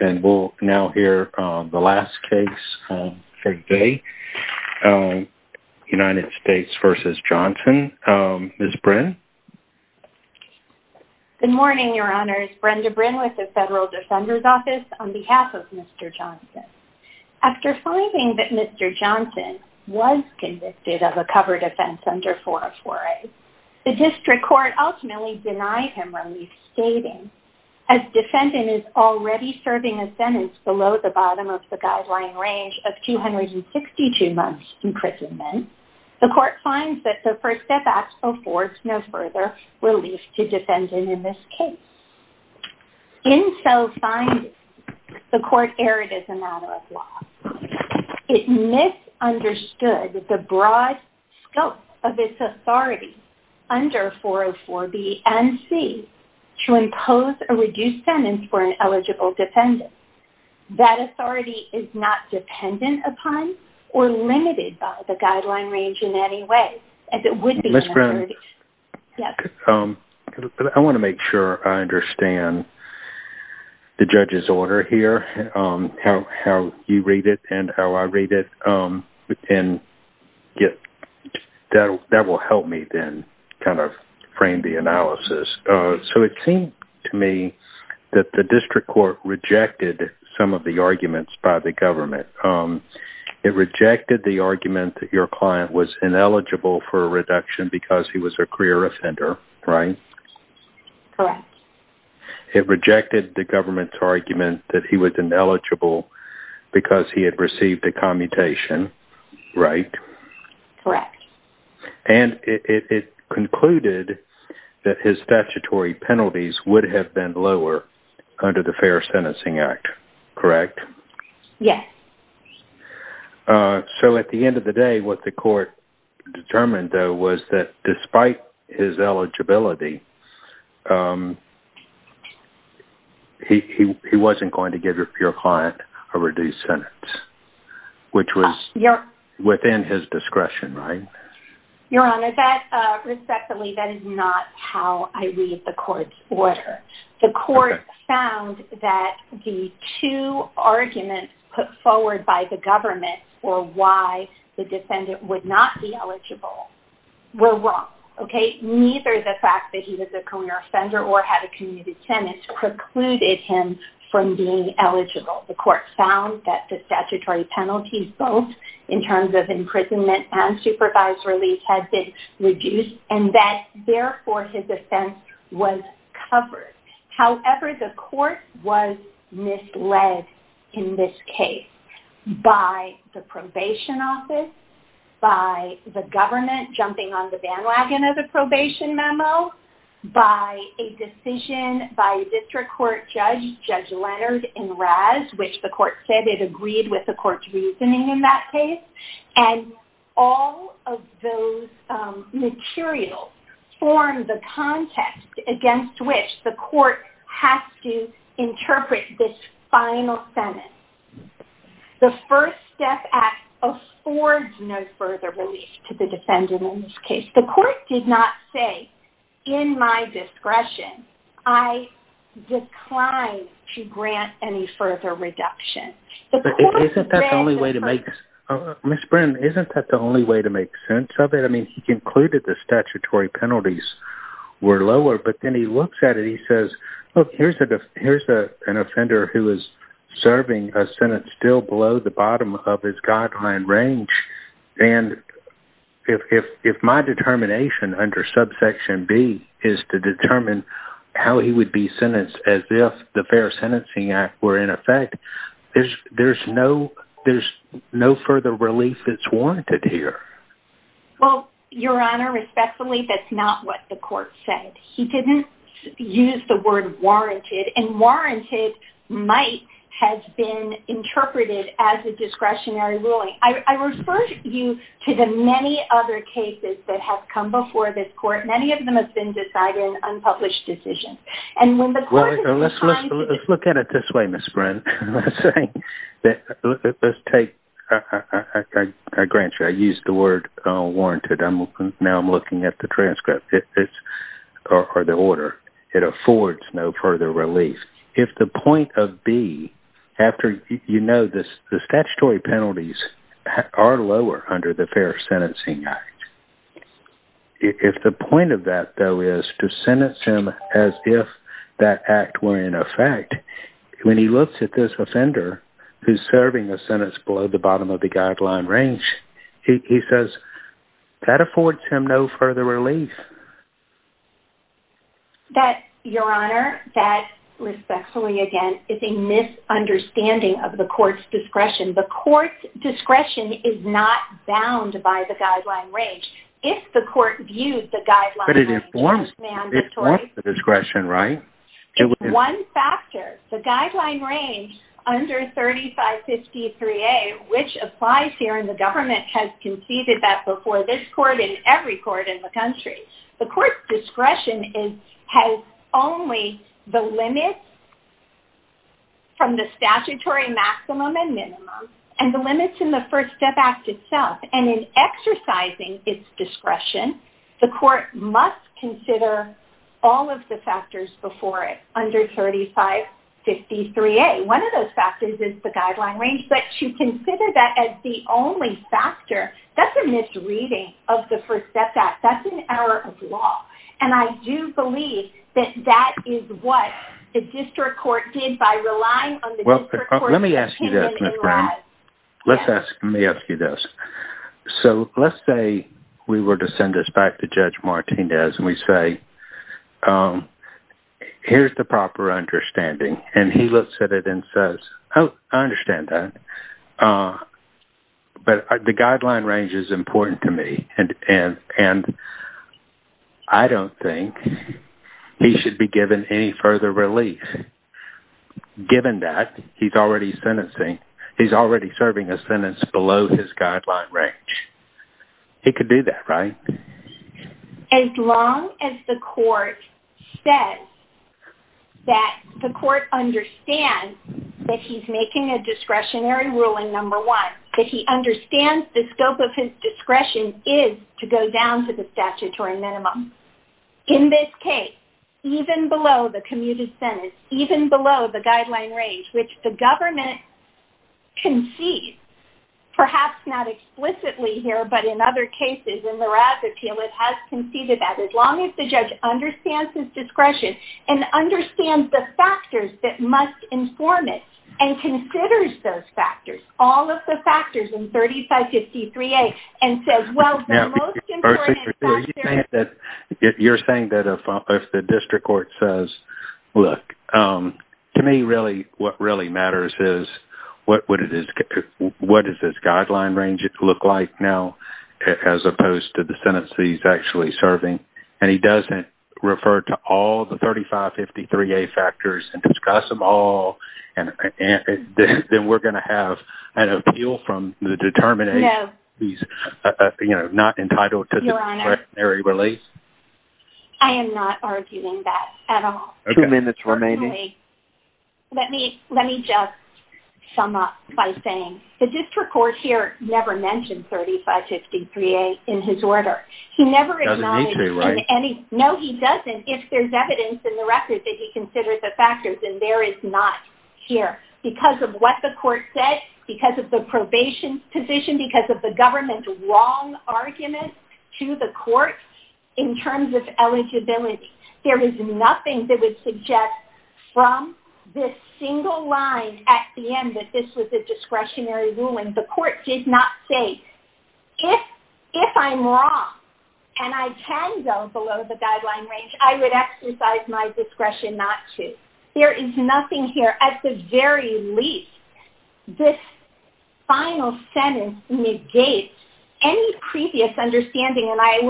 and we'll now hear the last case for today, United States v. Johnson. Ms. Brin? Good morning, Your Honors. Brenda Brin with the Federal Defender's Office on behalf of Mr. Johnson. After finding that Mr. Johnson was convicted of a covered offense under 404A, the district court ultimately denied him relief, stating, as defendant is already serving a sentence below the bottom of the guideline range of 262 months imprisonment, the court finds that the First Step Act affords no further relief to defendant in this case. In so finding, the court erred as a matter of law. It misunderstood the broad scope of its authority under 404B and C to impose a reduced sentence for an eligible defendant. That authority is not dependent upon or limited by the guideline range in any way, as it would be in a verdict. Ms. Brin? I want to make sure I understand the judge's order here, how you read it and how I read it, and that will help me then kind of frame the analysis. So it seemed to me that the district court rejected some of the arguments by the government. It rejected the argument that your client was a career offender, right? Correct. It rejected the government's argument that he was ineligible because he had received a commutation, right? Correct. And it concluded that his statutory penalties would have been lower under the Fair Sentencing Act, correct? Yes. So at the end of the day, what the court determined, though, was that despite his eligibility, he wasn't going to give your client a reduced sentence, which was within his discretion, right? Your Honor, respectfully, that is not how I read the court's order. The court found that the two arguments put forward by the government for why the defendant would not be eligible were wrong, okay? Neither the fact that he was a career offender or had a commuted sentence precluded him from being eligible. The court found that the statutory penalties, both in terms of imprisonment and supervised release, had been reduced and that, therefore, his offense was covered. However, the court was misled in this case by the probation office, by the government jumping on the bandwagon of the probation memo, by a decision by a district court judge, Judge Leonard and Raz, which the court said it agreed with the court's reasoning in that case. And all of those materials form the context against which the court has to interpret this final sentence. The First Step Act affords no further release to the defendant in this case. The court did not say, in my discretion, I decline to grant any further reduction. Isn't that the only way to make sense of it? I mean, he concluded the statutory penalties were lower, but then he looks at it and he says, look, here's an offender who is serving a sentence still below the bottom of his guideline range, and if my determination under subsection B is to determine how he would be sentenced as if the Fair Sentencing Act were in effect, there's no further relief that's warranted here. Well, Your Honor, respectfully, that's not what the court said. He didn't use the word warranted, and warranted might have been interpreted as a discretionary ruling. I refer you to the many other cases that have come before this court. Many of them have been decided unpublished decisions. Let's look at it this way, Ms. Bryn. Let's take, I grant you, I used the word warranted. Now I'm looking at the transcript, or the order. It affords no further relief. If the point of B, after you know the statutory penalties are lower under the Fair Sentencing Act, if the point of that, though, is to sentence him as if that act were in effect, when he looks at this offender who's serving a sentence below the bottom of the guideline range, he says, that affords him no further relief. That, Your Honor, that, respectfully, again, is a misunderstanding of the court's discretion. The court's discretion is not bound by the guideline range. If the court views the guideline range as mandatory... But it informs the discretion, right? One factor, the guideline range under 3553A, which applies here in the government, has conceded that before this court and every court in the country. The court's discretion has only the limits from the statutory maximum and minimum, and the limits in the First Step Act itself. And in exercising its discretion, the court must consider all of the factors before it under 3553A. One of those factors is the guideline range. But to consider that as the only factor, that's a misreading of the First Step Act. That's an error of law. And I do believe that that is what the district court did by relying on the district court... Let me ask you this, Ms. Brown. Let me ask you this. So let's say we were to send this back to Judge Martinez and we say, here's the proper understanding. And he looks at it and says, oh, I understand that. But the guideline range is important to me. And I don't think he should be given any further relief. Given that, he's already sentencing. He's already serving a sentence below his guideline range. He could do that, right? As long as the court says that the court understands that he's making a discretionary ruling, number one, that he understands the scope of his discretion is to go down to the statutory minimum. In this case, even below the commuted sentence, even below the guideline range, which the government concedes, perhaps not explicitly here, but in other cases, in the Raz Appeal it has conceded that as long as the judge understands his discretion and understands the factors that must inform it and considers those factors, all of the factors in 3553A, and says, well, the most important factor is... You're saying that if the district court says, look, to me, really, what really matters is what does this guideline range look like now, as opposed to the sentence he's actually serving? And he doesn't refer to all the 3553A factors and discuss them all, then we're going to have an appeal from the determination he's not entitled to discretionary release? I am not arguing that at all. Two minutes remaining. Let me just sum up by saying the district court here never mentioned 3553A in his order. He never... Doesn't need to, right? No, he doesn't. And if there's evidence in the record that he considers the factors, then there is not here. Because of what the court said, because of the probation position, because of the government's wrong argument to the court in terms of eligibility, there is nothing that would suggest from this single line at the end that this was a discretionary ruling. The court did not say, if I'm wrong and I can go below the guideline range, I would exercise my discretion not to. There is nothing here. At the very least, this final sentence negates any previous understanding. And I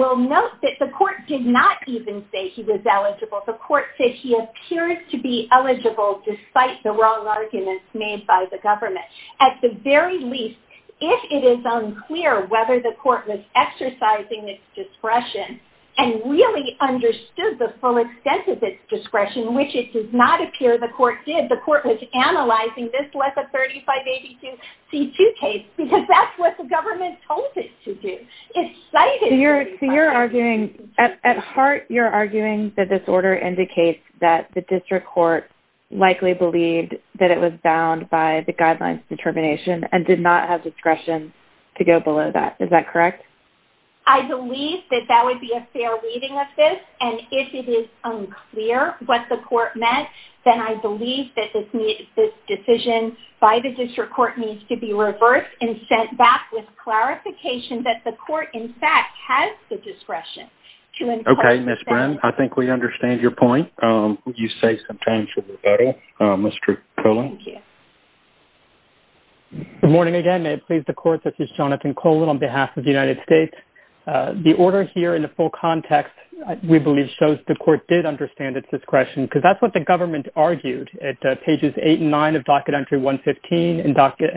will note that the court did not even say he was eligible. The court said he appeared to be eligible despite the wrong arguments made by the government. At the very least, if it is unclear whether the court was exercising its discretion and really understood the full extent of its discretion, which it does not appear the court did, the court was analyzing this less a 3582C2 case because that's what the government told it to do. It cited... So you're arguing... At heart, you're arguing that this order indicates that the district court likely believed that it was bound by the guideline's determination and did not have discretion to go below that. Is that correct? I believe that that would be a fair reading of this. And if it is unclear what the court meant, then I believe that this decision by the district court needs to be reversed and sent back with clarification that the court, in fact, has the discretion to impose... Okay, Ms. Bryn, I think we understand your point. Would you save some time for rebuttal, Mr. Colon? Thank you. Good morning again. May it please the court, this is Jonathan Colon on behalf of the United States. The order here in the full context, we believe, shows the court did understand its discretion because that's what the government argued at pages 8 and 9 of Docket Entry 115 and Docket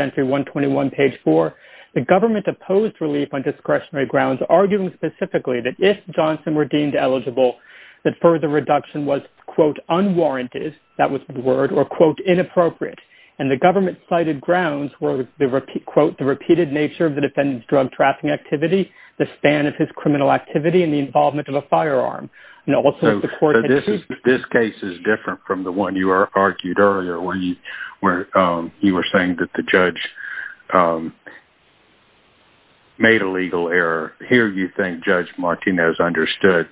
Entry 121, page 4. The government opposed relief on discretionary grounds, arguing specifically that if Johnson were deemed eligible, that further reduction was, quote, unwarranted, that was the word, or, quote, inappropriate. And the government-cited grounds were, quote, the repeated nature of the defendant's drug-trafficking activity, the span of his criminal activity, and the involvement of a firearm. This case is different from the one you argued earlier where you were saying that the judge made a legal error. Here you think Judge Martinez understood,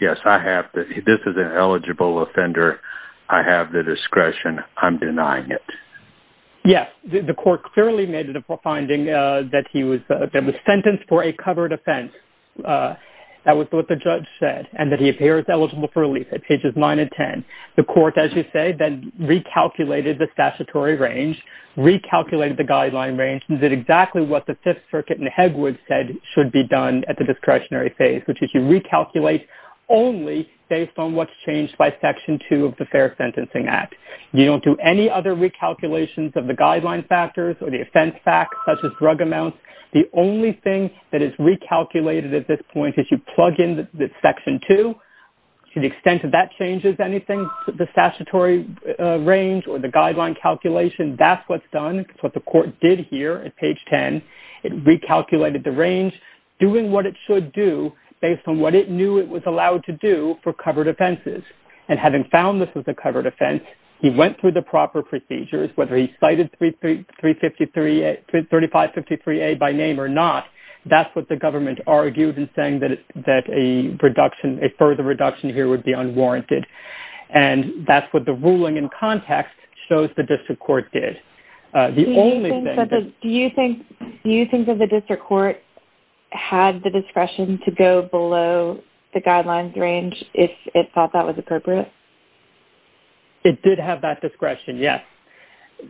yes, I have to-this is an eligible offender. I have the discretion. I'm denying it. Yes, the court clearly made it a finding that he was sentenced for a covered offense. That was what the judge said, and that he appears eligible for relief at pages 9 and 10. The court, as you say, then recalculated the statutory range, recalculated the guideline range, and did exactly what the Fifth Circuit in Hegwood said should be done at the discretionary phase, which is you recalculate only based on what's changed by Section 2 of the Fair Sentencing Act. You don't do any other recalculations of the guideline factors or the offense facts, such as drug amounts. The only thing that is recalculated at this point is you plug in the Section 2. To the extent that that changes anything, the statutory range or the guideline calculation, that's what's done. It's what the court did here at page 10. It recalculated the range, doing what it should do based on what it knew it was allowed to do for covered offenses. And having found this was a covered offense, he went through the proper procedures, whether he cited 3553A by name or not. That's what the government argued in saying that a further reduction here would be unwarranted. And that's what the ruling in context shows the district court did. Do you think that the district court had the discretion to go below the guidelines range if it thought that was appropriate? It did have that discretion, yes.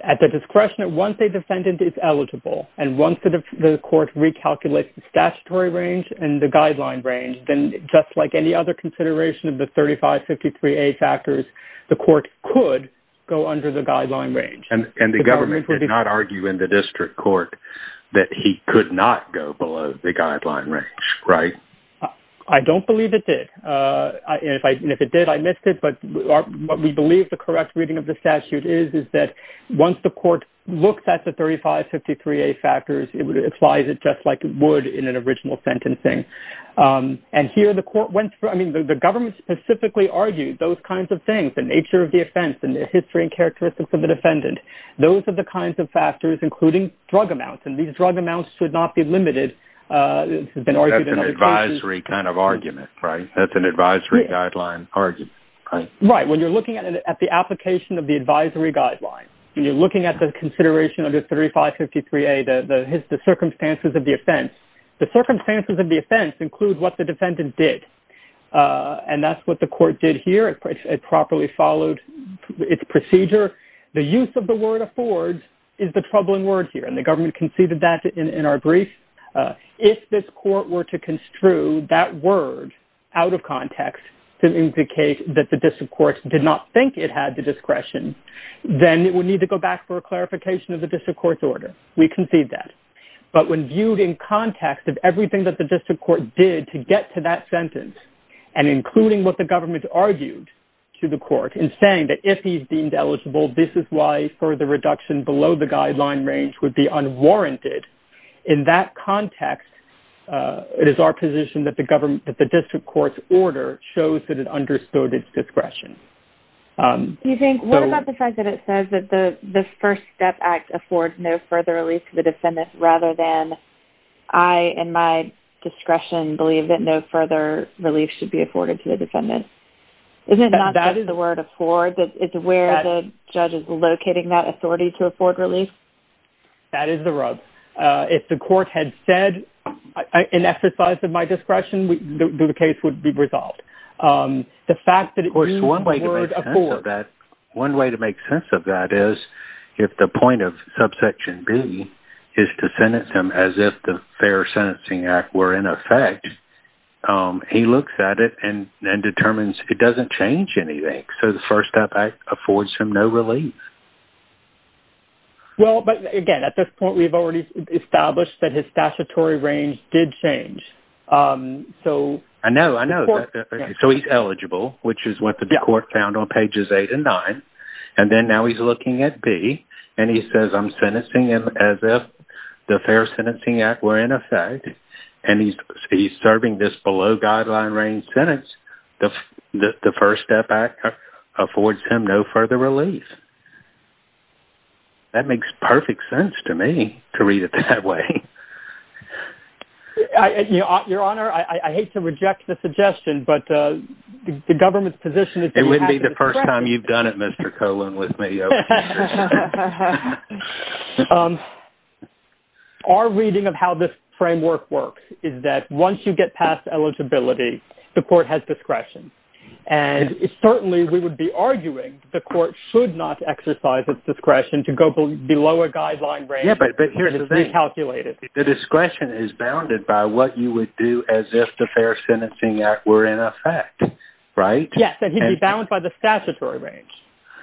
At the discretion, once a defendant is eligible and once the court recalculates the statutory range and the guideline range, then just like any other consideration of the 3553A factors, the court could go under the guideline range. And the government did not argue in the district court that he could not go below the guideline range, right? I don't believe it did. And if it did, I missed it, but what we believe the correct reading of the statute is, is that once the court looks at the 3553A factors, it applies it just like it would in an original sentencing. And here the government specifically argued those kinds of things, the nature of the offense, and the history and characteristics of the defendant. Those are the kinds of factors, including drug amounts, and these drug amounts should not be limited. That's an advisory kind of argument, right? That's an advisory guideline argument, right? Right. When you're looking at the application of the advisory guideline, and you're looking at the consideration of the 3553A, the circumstances of the offense, the circumstances of the offense include what the defendant did, and that's what the court did here. It properly followed its procedure. The use of the word affords is the troubling word here, and the government conceded that in our brief. If this court were to construe that word out of context to indicate that the district court did not think it had the discretion, then it would need to go back for a clarification of the district court's order. We concede that. But when viewed in context of everything that the district court did to get to that sentence, and including what the government argued to the court in saying that if he's deemed eligible, this is why further reduction below the guideline range would be unwarranted, in that context, it is our position that the district court's order shows that it understood its discretion. What about the fact that it says that the First Step Act affords no further relief to the defendant rather than I, in my discretion, believe that no further relief should be afforded to the defendant? Isn't that not the word afford? It's where the judge is locating that authority to afford relief? That is the rub. If the court had said, in exercise of my discretion, the case would be resolved. Of course, one way to make sense of that is if the point of subsection B is to sentence him as if the Fair Sentencing Act were in effect, he looks at it and determines it doesn't change anything. So the First Step Act affords him no relief. Well, but again, at this point, we've already established that his statutory range did change. I know, I know. So he's eligible, which is what the court found on pages 8 and 9, and then now he's looking at B, and he says, I'm sentencing him as if the Fair Sentencing Act were in effect, and he's serving this below-guideline range sentence, the First Step Act affords him no further relief. That makes perfect sense to me, to read it that way. Your Honor, I hate to reject the suggestion, but the government's position is that you have to discuss it. It wouldn't be the first time you've done it, Mr. Colon, with me. Our reading of how this framework works is that once you get past eligibility, the court has discretion, and certainly we would be arguing the court should not exercise its discretion to go below a guideline range. Yeah, but here's the thing. It's recalculated. The discretion is bounded by what you would do as if the Fair Sentencing Act were in effect, right? Yes, and he'd be bound by the statutory range.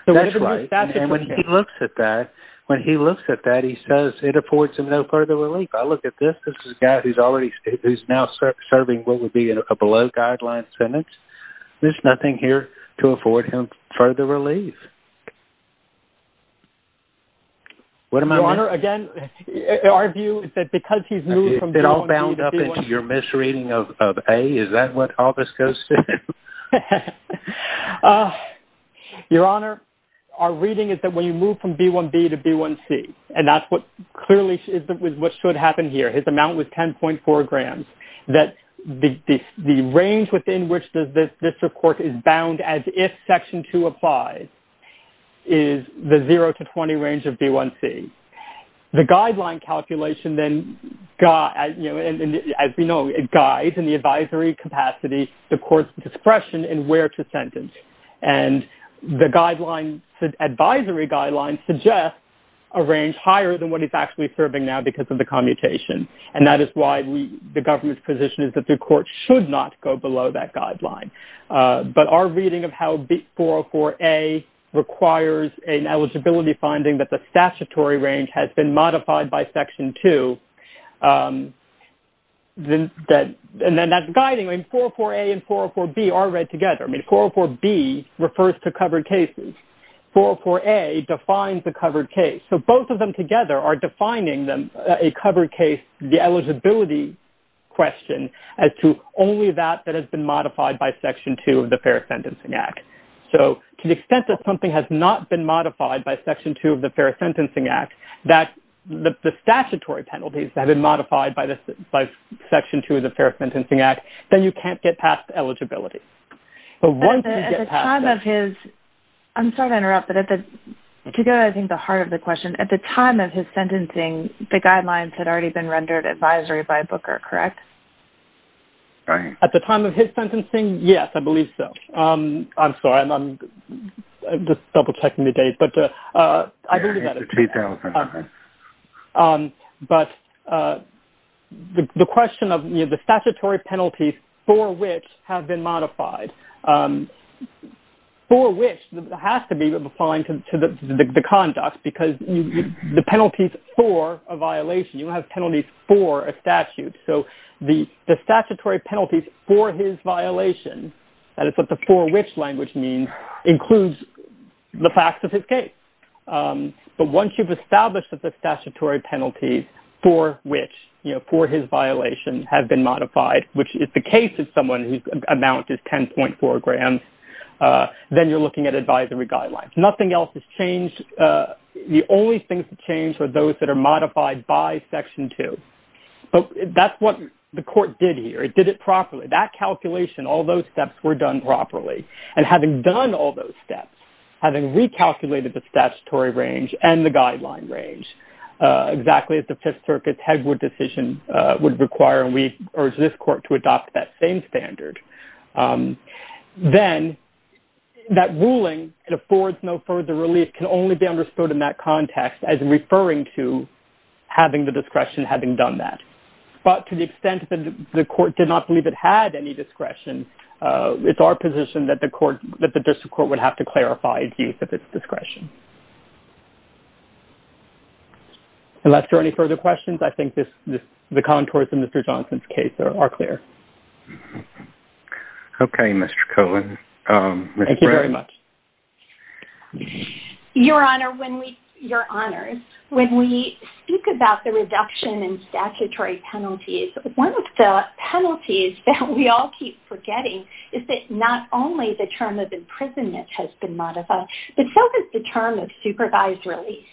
That's right. And when he looks at that, when he looks at that, he says it affords him no further relief. I look at this, this is a guy who's now serving what would be a below-guideline sentence. There's nothing here to afford him further relief. Your Honor, again, our view is that because he's moved from job B to B1… Is it all bound up into your misreading of A? Is that what all this goes to? Your Honor, our reading is that when you move from B1B to B1C, and that's what clearly is what should happen here, his amount was 10.4 grams, that the range within which this court is bound as if Section 2 applies is the 0 to 20 range of B1C. The guideline calculation then, as we know, it guides in the advisory capacity the court's discretion in where to sentence. And the advisory guideline suggests a range higher than what he's actually serving now because of the commutation. And that is why the government's position is that the court should not go below that guideline. But our reading of how 404A requires an eligibility finding that the statutory range has been modified by Section 2, and then that's guiding. 404A and 404B are read together. I mean, 404B refers to covered cases. 404A defines the covered case. So both of them together are defining a covered case, the eligibility question, as to only that that has been modified by Section 2 of the Fair Sentencing Act. So to the extent that something has not been modified by Section 2 of the Fair Sentencing Act, that the statutory penalties have been modified by Section 2 of the Fair Sentencing Act, then you can't get past eligibility. I'm sorry to interrupt, but to go to I think the heart of the question, at the time of his sentencing, the guidelines had already been rendered advisory by Booker, correct? At the time of his sentencing, yes, I believe so. I'm sorry, I'm just double-checking the date, but I believe that is correct. But the question of the statutory penalties for which have been modified, for which has to be defined to the conduct because the penalties for a violation, you have penalties for a statute. So the statutory penalties for his violation, that is what the for which language means, includes the facts of his case. But once you've established that the statutory penalties for which, you know, for his violation have been modified, which is the case of someone whose amount is 10.4 grams, then you're looking at advisory guidelines. Nothing else has changed. The only things that changed are those that are modified by Section 2. But that's what the court did here. It did it properly. That calculation, all those steps were done properly. And having done all those steps, having recalculated the statutory range and the guideline range, exactly as the Fifth Circuit's Hegwood decision would require, and we urge this court to adopt that same standard, then that ruling, it affords no further relief, can only be understood in that context as referring to having the discretion, having done that. But to the extent that the court did not believe it had any discretion, it's our position that the district court would have to clarify its use of its discretion. Unless there are any further questions, I think the contours of Mr. Johnson's case are clear. Okay, Mr. Cohen. Thank you very much. Your Honor, when we speak about the reduction in statutory penalties, one of the penalties that we all keep forgetting is that not only the term of imprisonment has been modified, but so has the term of supervised release.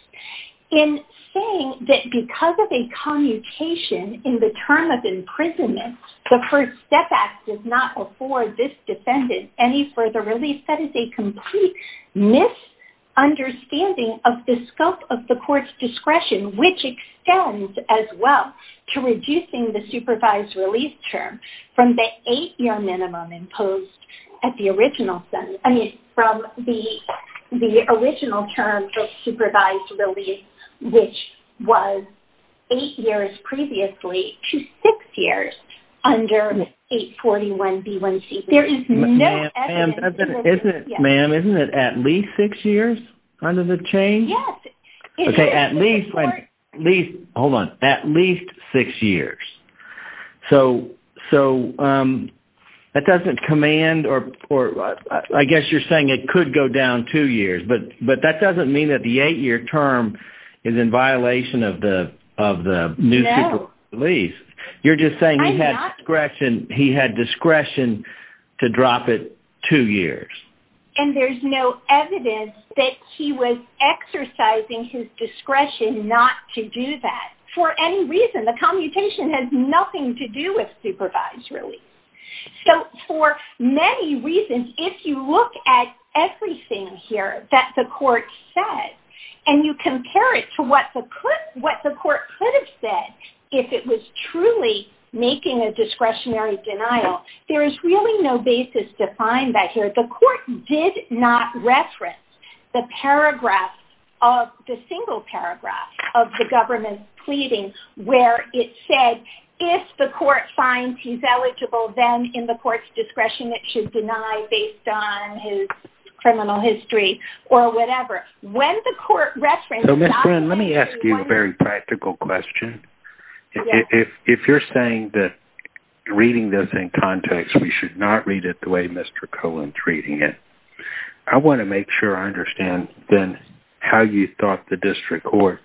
In saying that because of a commutation in the term of imprisonment, the First Step Act does not afford this defendant any further relief, that is a complete misunderstanding of the scope of the court's discretion, which extends as well to reducing the supervised release term from the eight-year minimum imposed at the original sentence. I mean, from the original term of supervised release, which was eight years previously to six years under 841B1C. There is no evidence. Ma'am, isn't it at least six years under the change? Yes. Okay, at least, hold on, at least six years. So that doesn't command or I guess you're saying it could go down two years, but that doesn't mean that the eight-year term is in violation of the new supervised release. You're just saying he had discretion to drop it two years. And there's no evidence that he was exercising his discretion not to do that. For any reason, the commutation has nothing to do with supervised release. So for many reasons, if you look at everything here that the court said, and you compare it to what the court could have said if it was truly making a discretionary denial, there is really no basis to find that here. The court did not reference the single paragraph of the government's pleading where it said, if the court finds he's eligible, then in the court's discretion, it should deny based on his criminal history or whatever. When the court referenced that- Friend, let me ask you a very practical question. If you're saying that reading this in context, we should not read it the way Mr. Cohen's reading it, I want to make sure I understand then how you thought the district court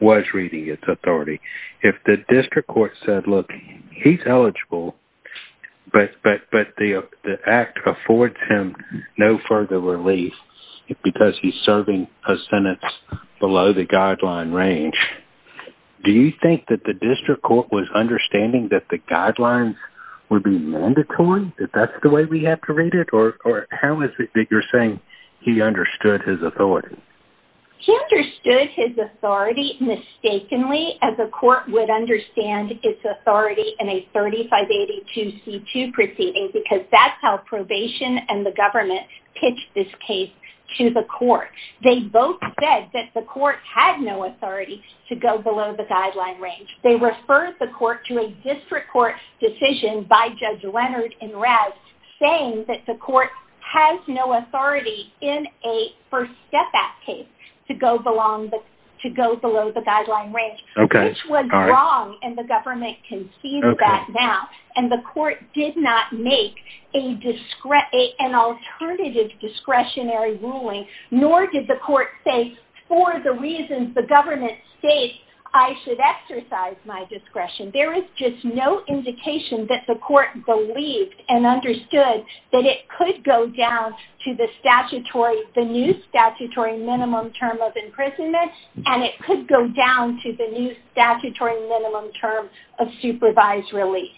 was reading its authority. If the district court said, look, he's eligible, but the act affords him no further release because he's serving a sentence below the guideline range, do you think that the district court was understanding that the guidelines would be mandatory, that that's the way we have to read it? Or how is it that you're saying he understood his authority? He understood his authority mistakenly as a court would understand its authority in a 3582C2 proceeding because that's how probation and the government pitched this case to the court. They both said that the court had no authority to go below the guideline range. They referred the court to a district court decision by Judge Leonard and Rouse saying that the court has no authority in a First Step Act case to go below the guideline range. This was wrong and the government can see that now. And the court did not make an alternative discretionary ruling, nor did the court say for the reasons the government states, I should exercise my discretion. There is just no indication that the court believed and understood that it could go down to the new statutory minimum term of imprisonment and it could go down to the new statutory minimum term of supervised release.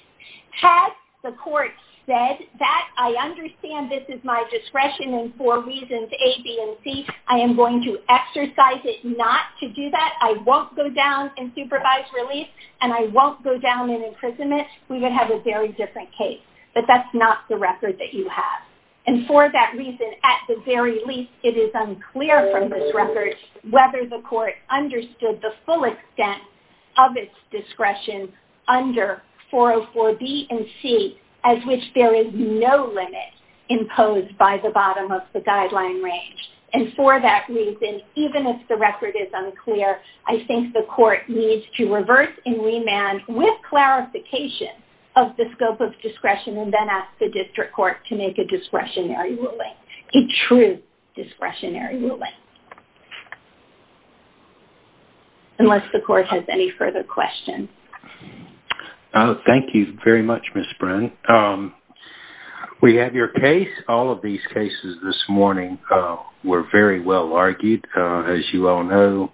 Had the court said that, I understand this is my discretion and for reasons A, B, and C, I am going to exercise it not to do that, I won't go down in supervised release, and I won't go down in imprisonment, we would have a very different case. But that's not the record that you have. And for that reason, at the very least, it is unclear from this record whether the court understood the full extent of its discretion under 404B and C as which there is no limit imposed by the bottom of the guideline range. And for that reason, even if the record is unclear, I think the court needs to reverse and remand with clarification of the scope of discretion and then ask the district court to make a discretionary ruling, a true discretionary ruling. Unless the court has any further questions. Thank you very much, Ms. Bren. We have your case. All of these cases this morning were very well argued. As you all know,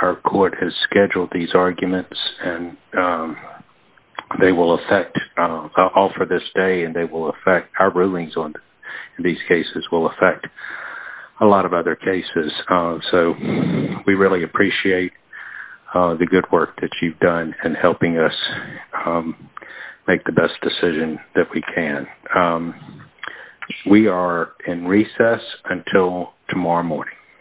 our court has scheduled these arguments and they will affect all for this day and they will affect our rulings on these cases, will affect a lot of other cases. So we really appreciate the good work that you've done in helping us make the best decision that we can. We are in recess until tomorrow morning.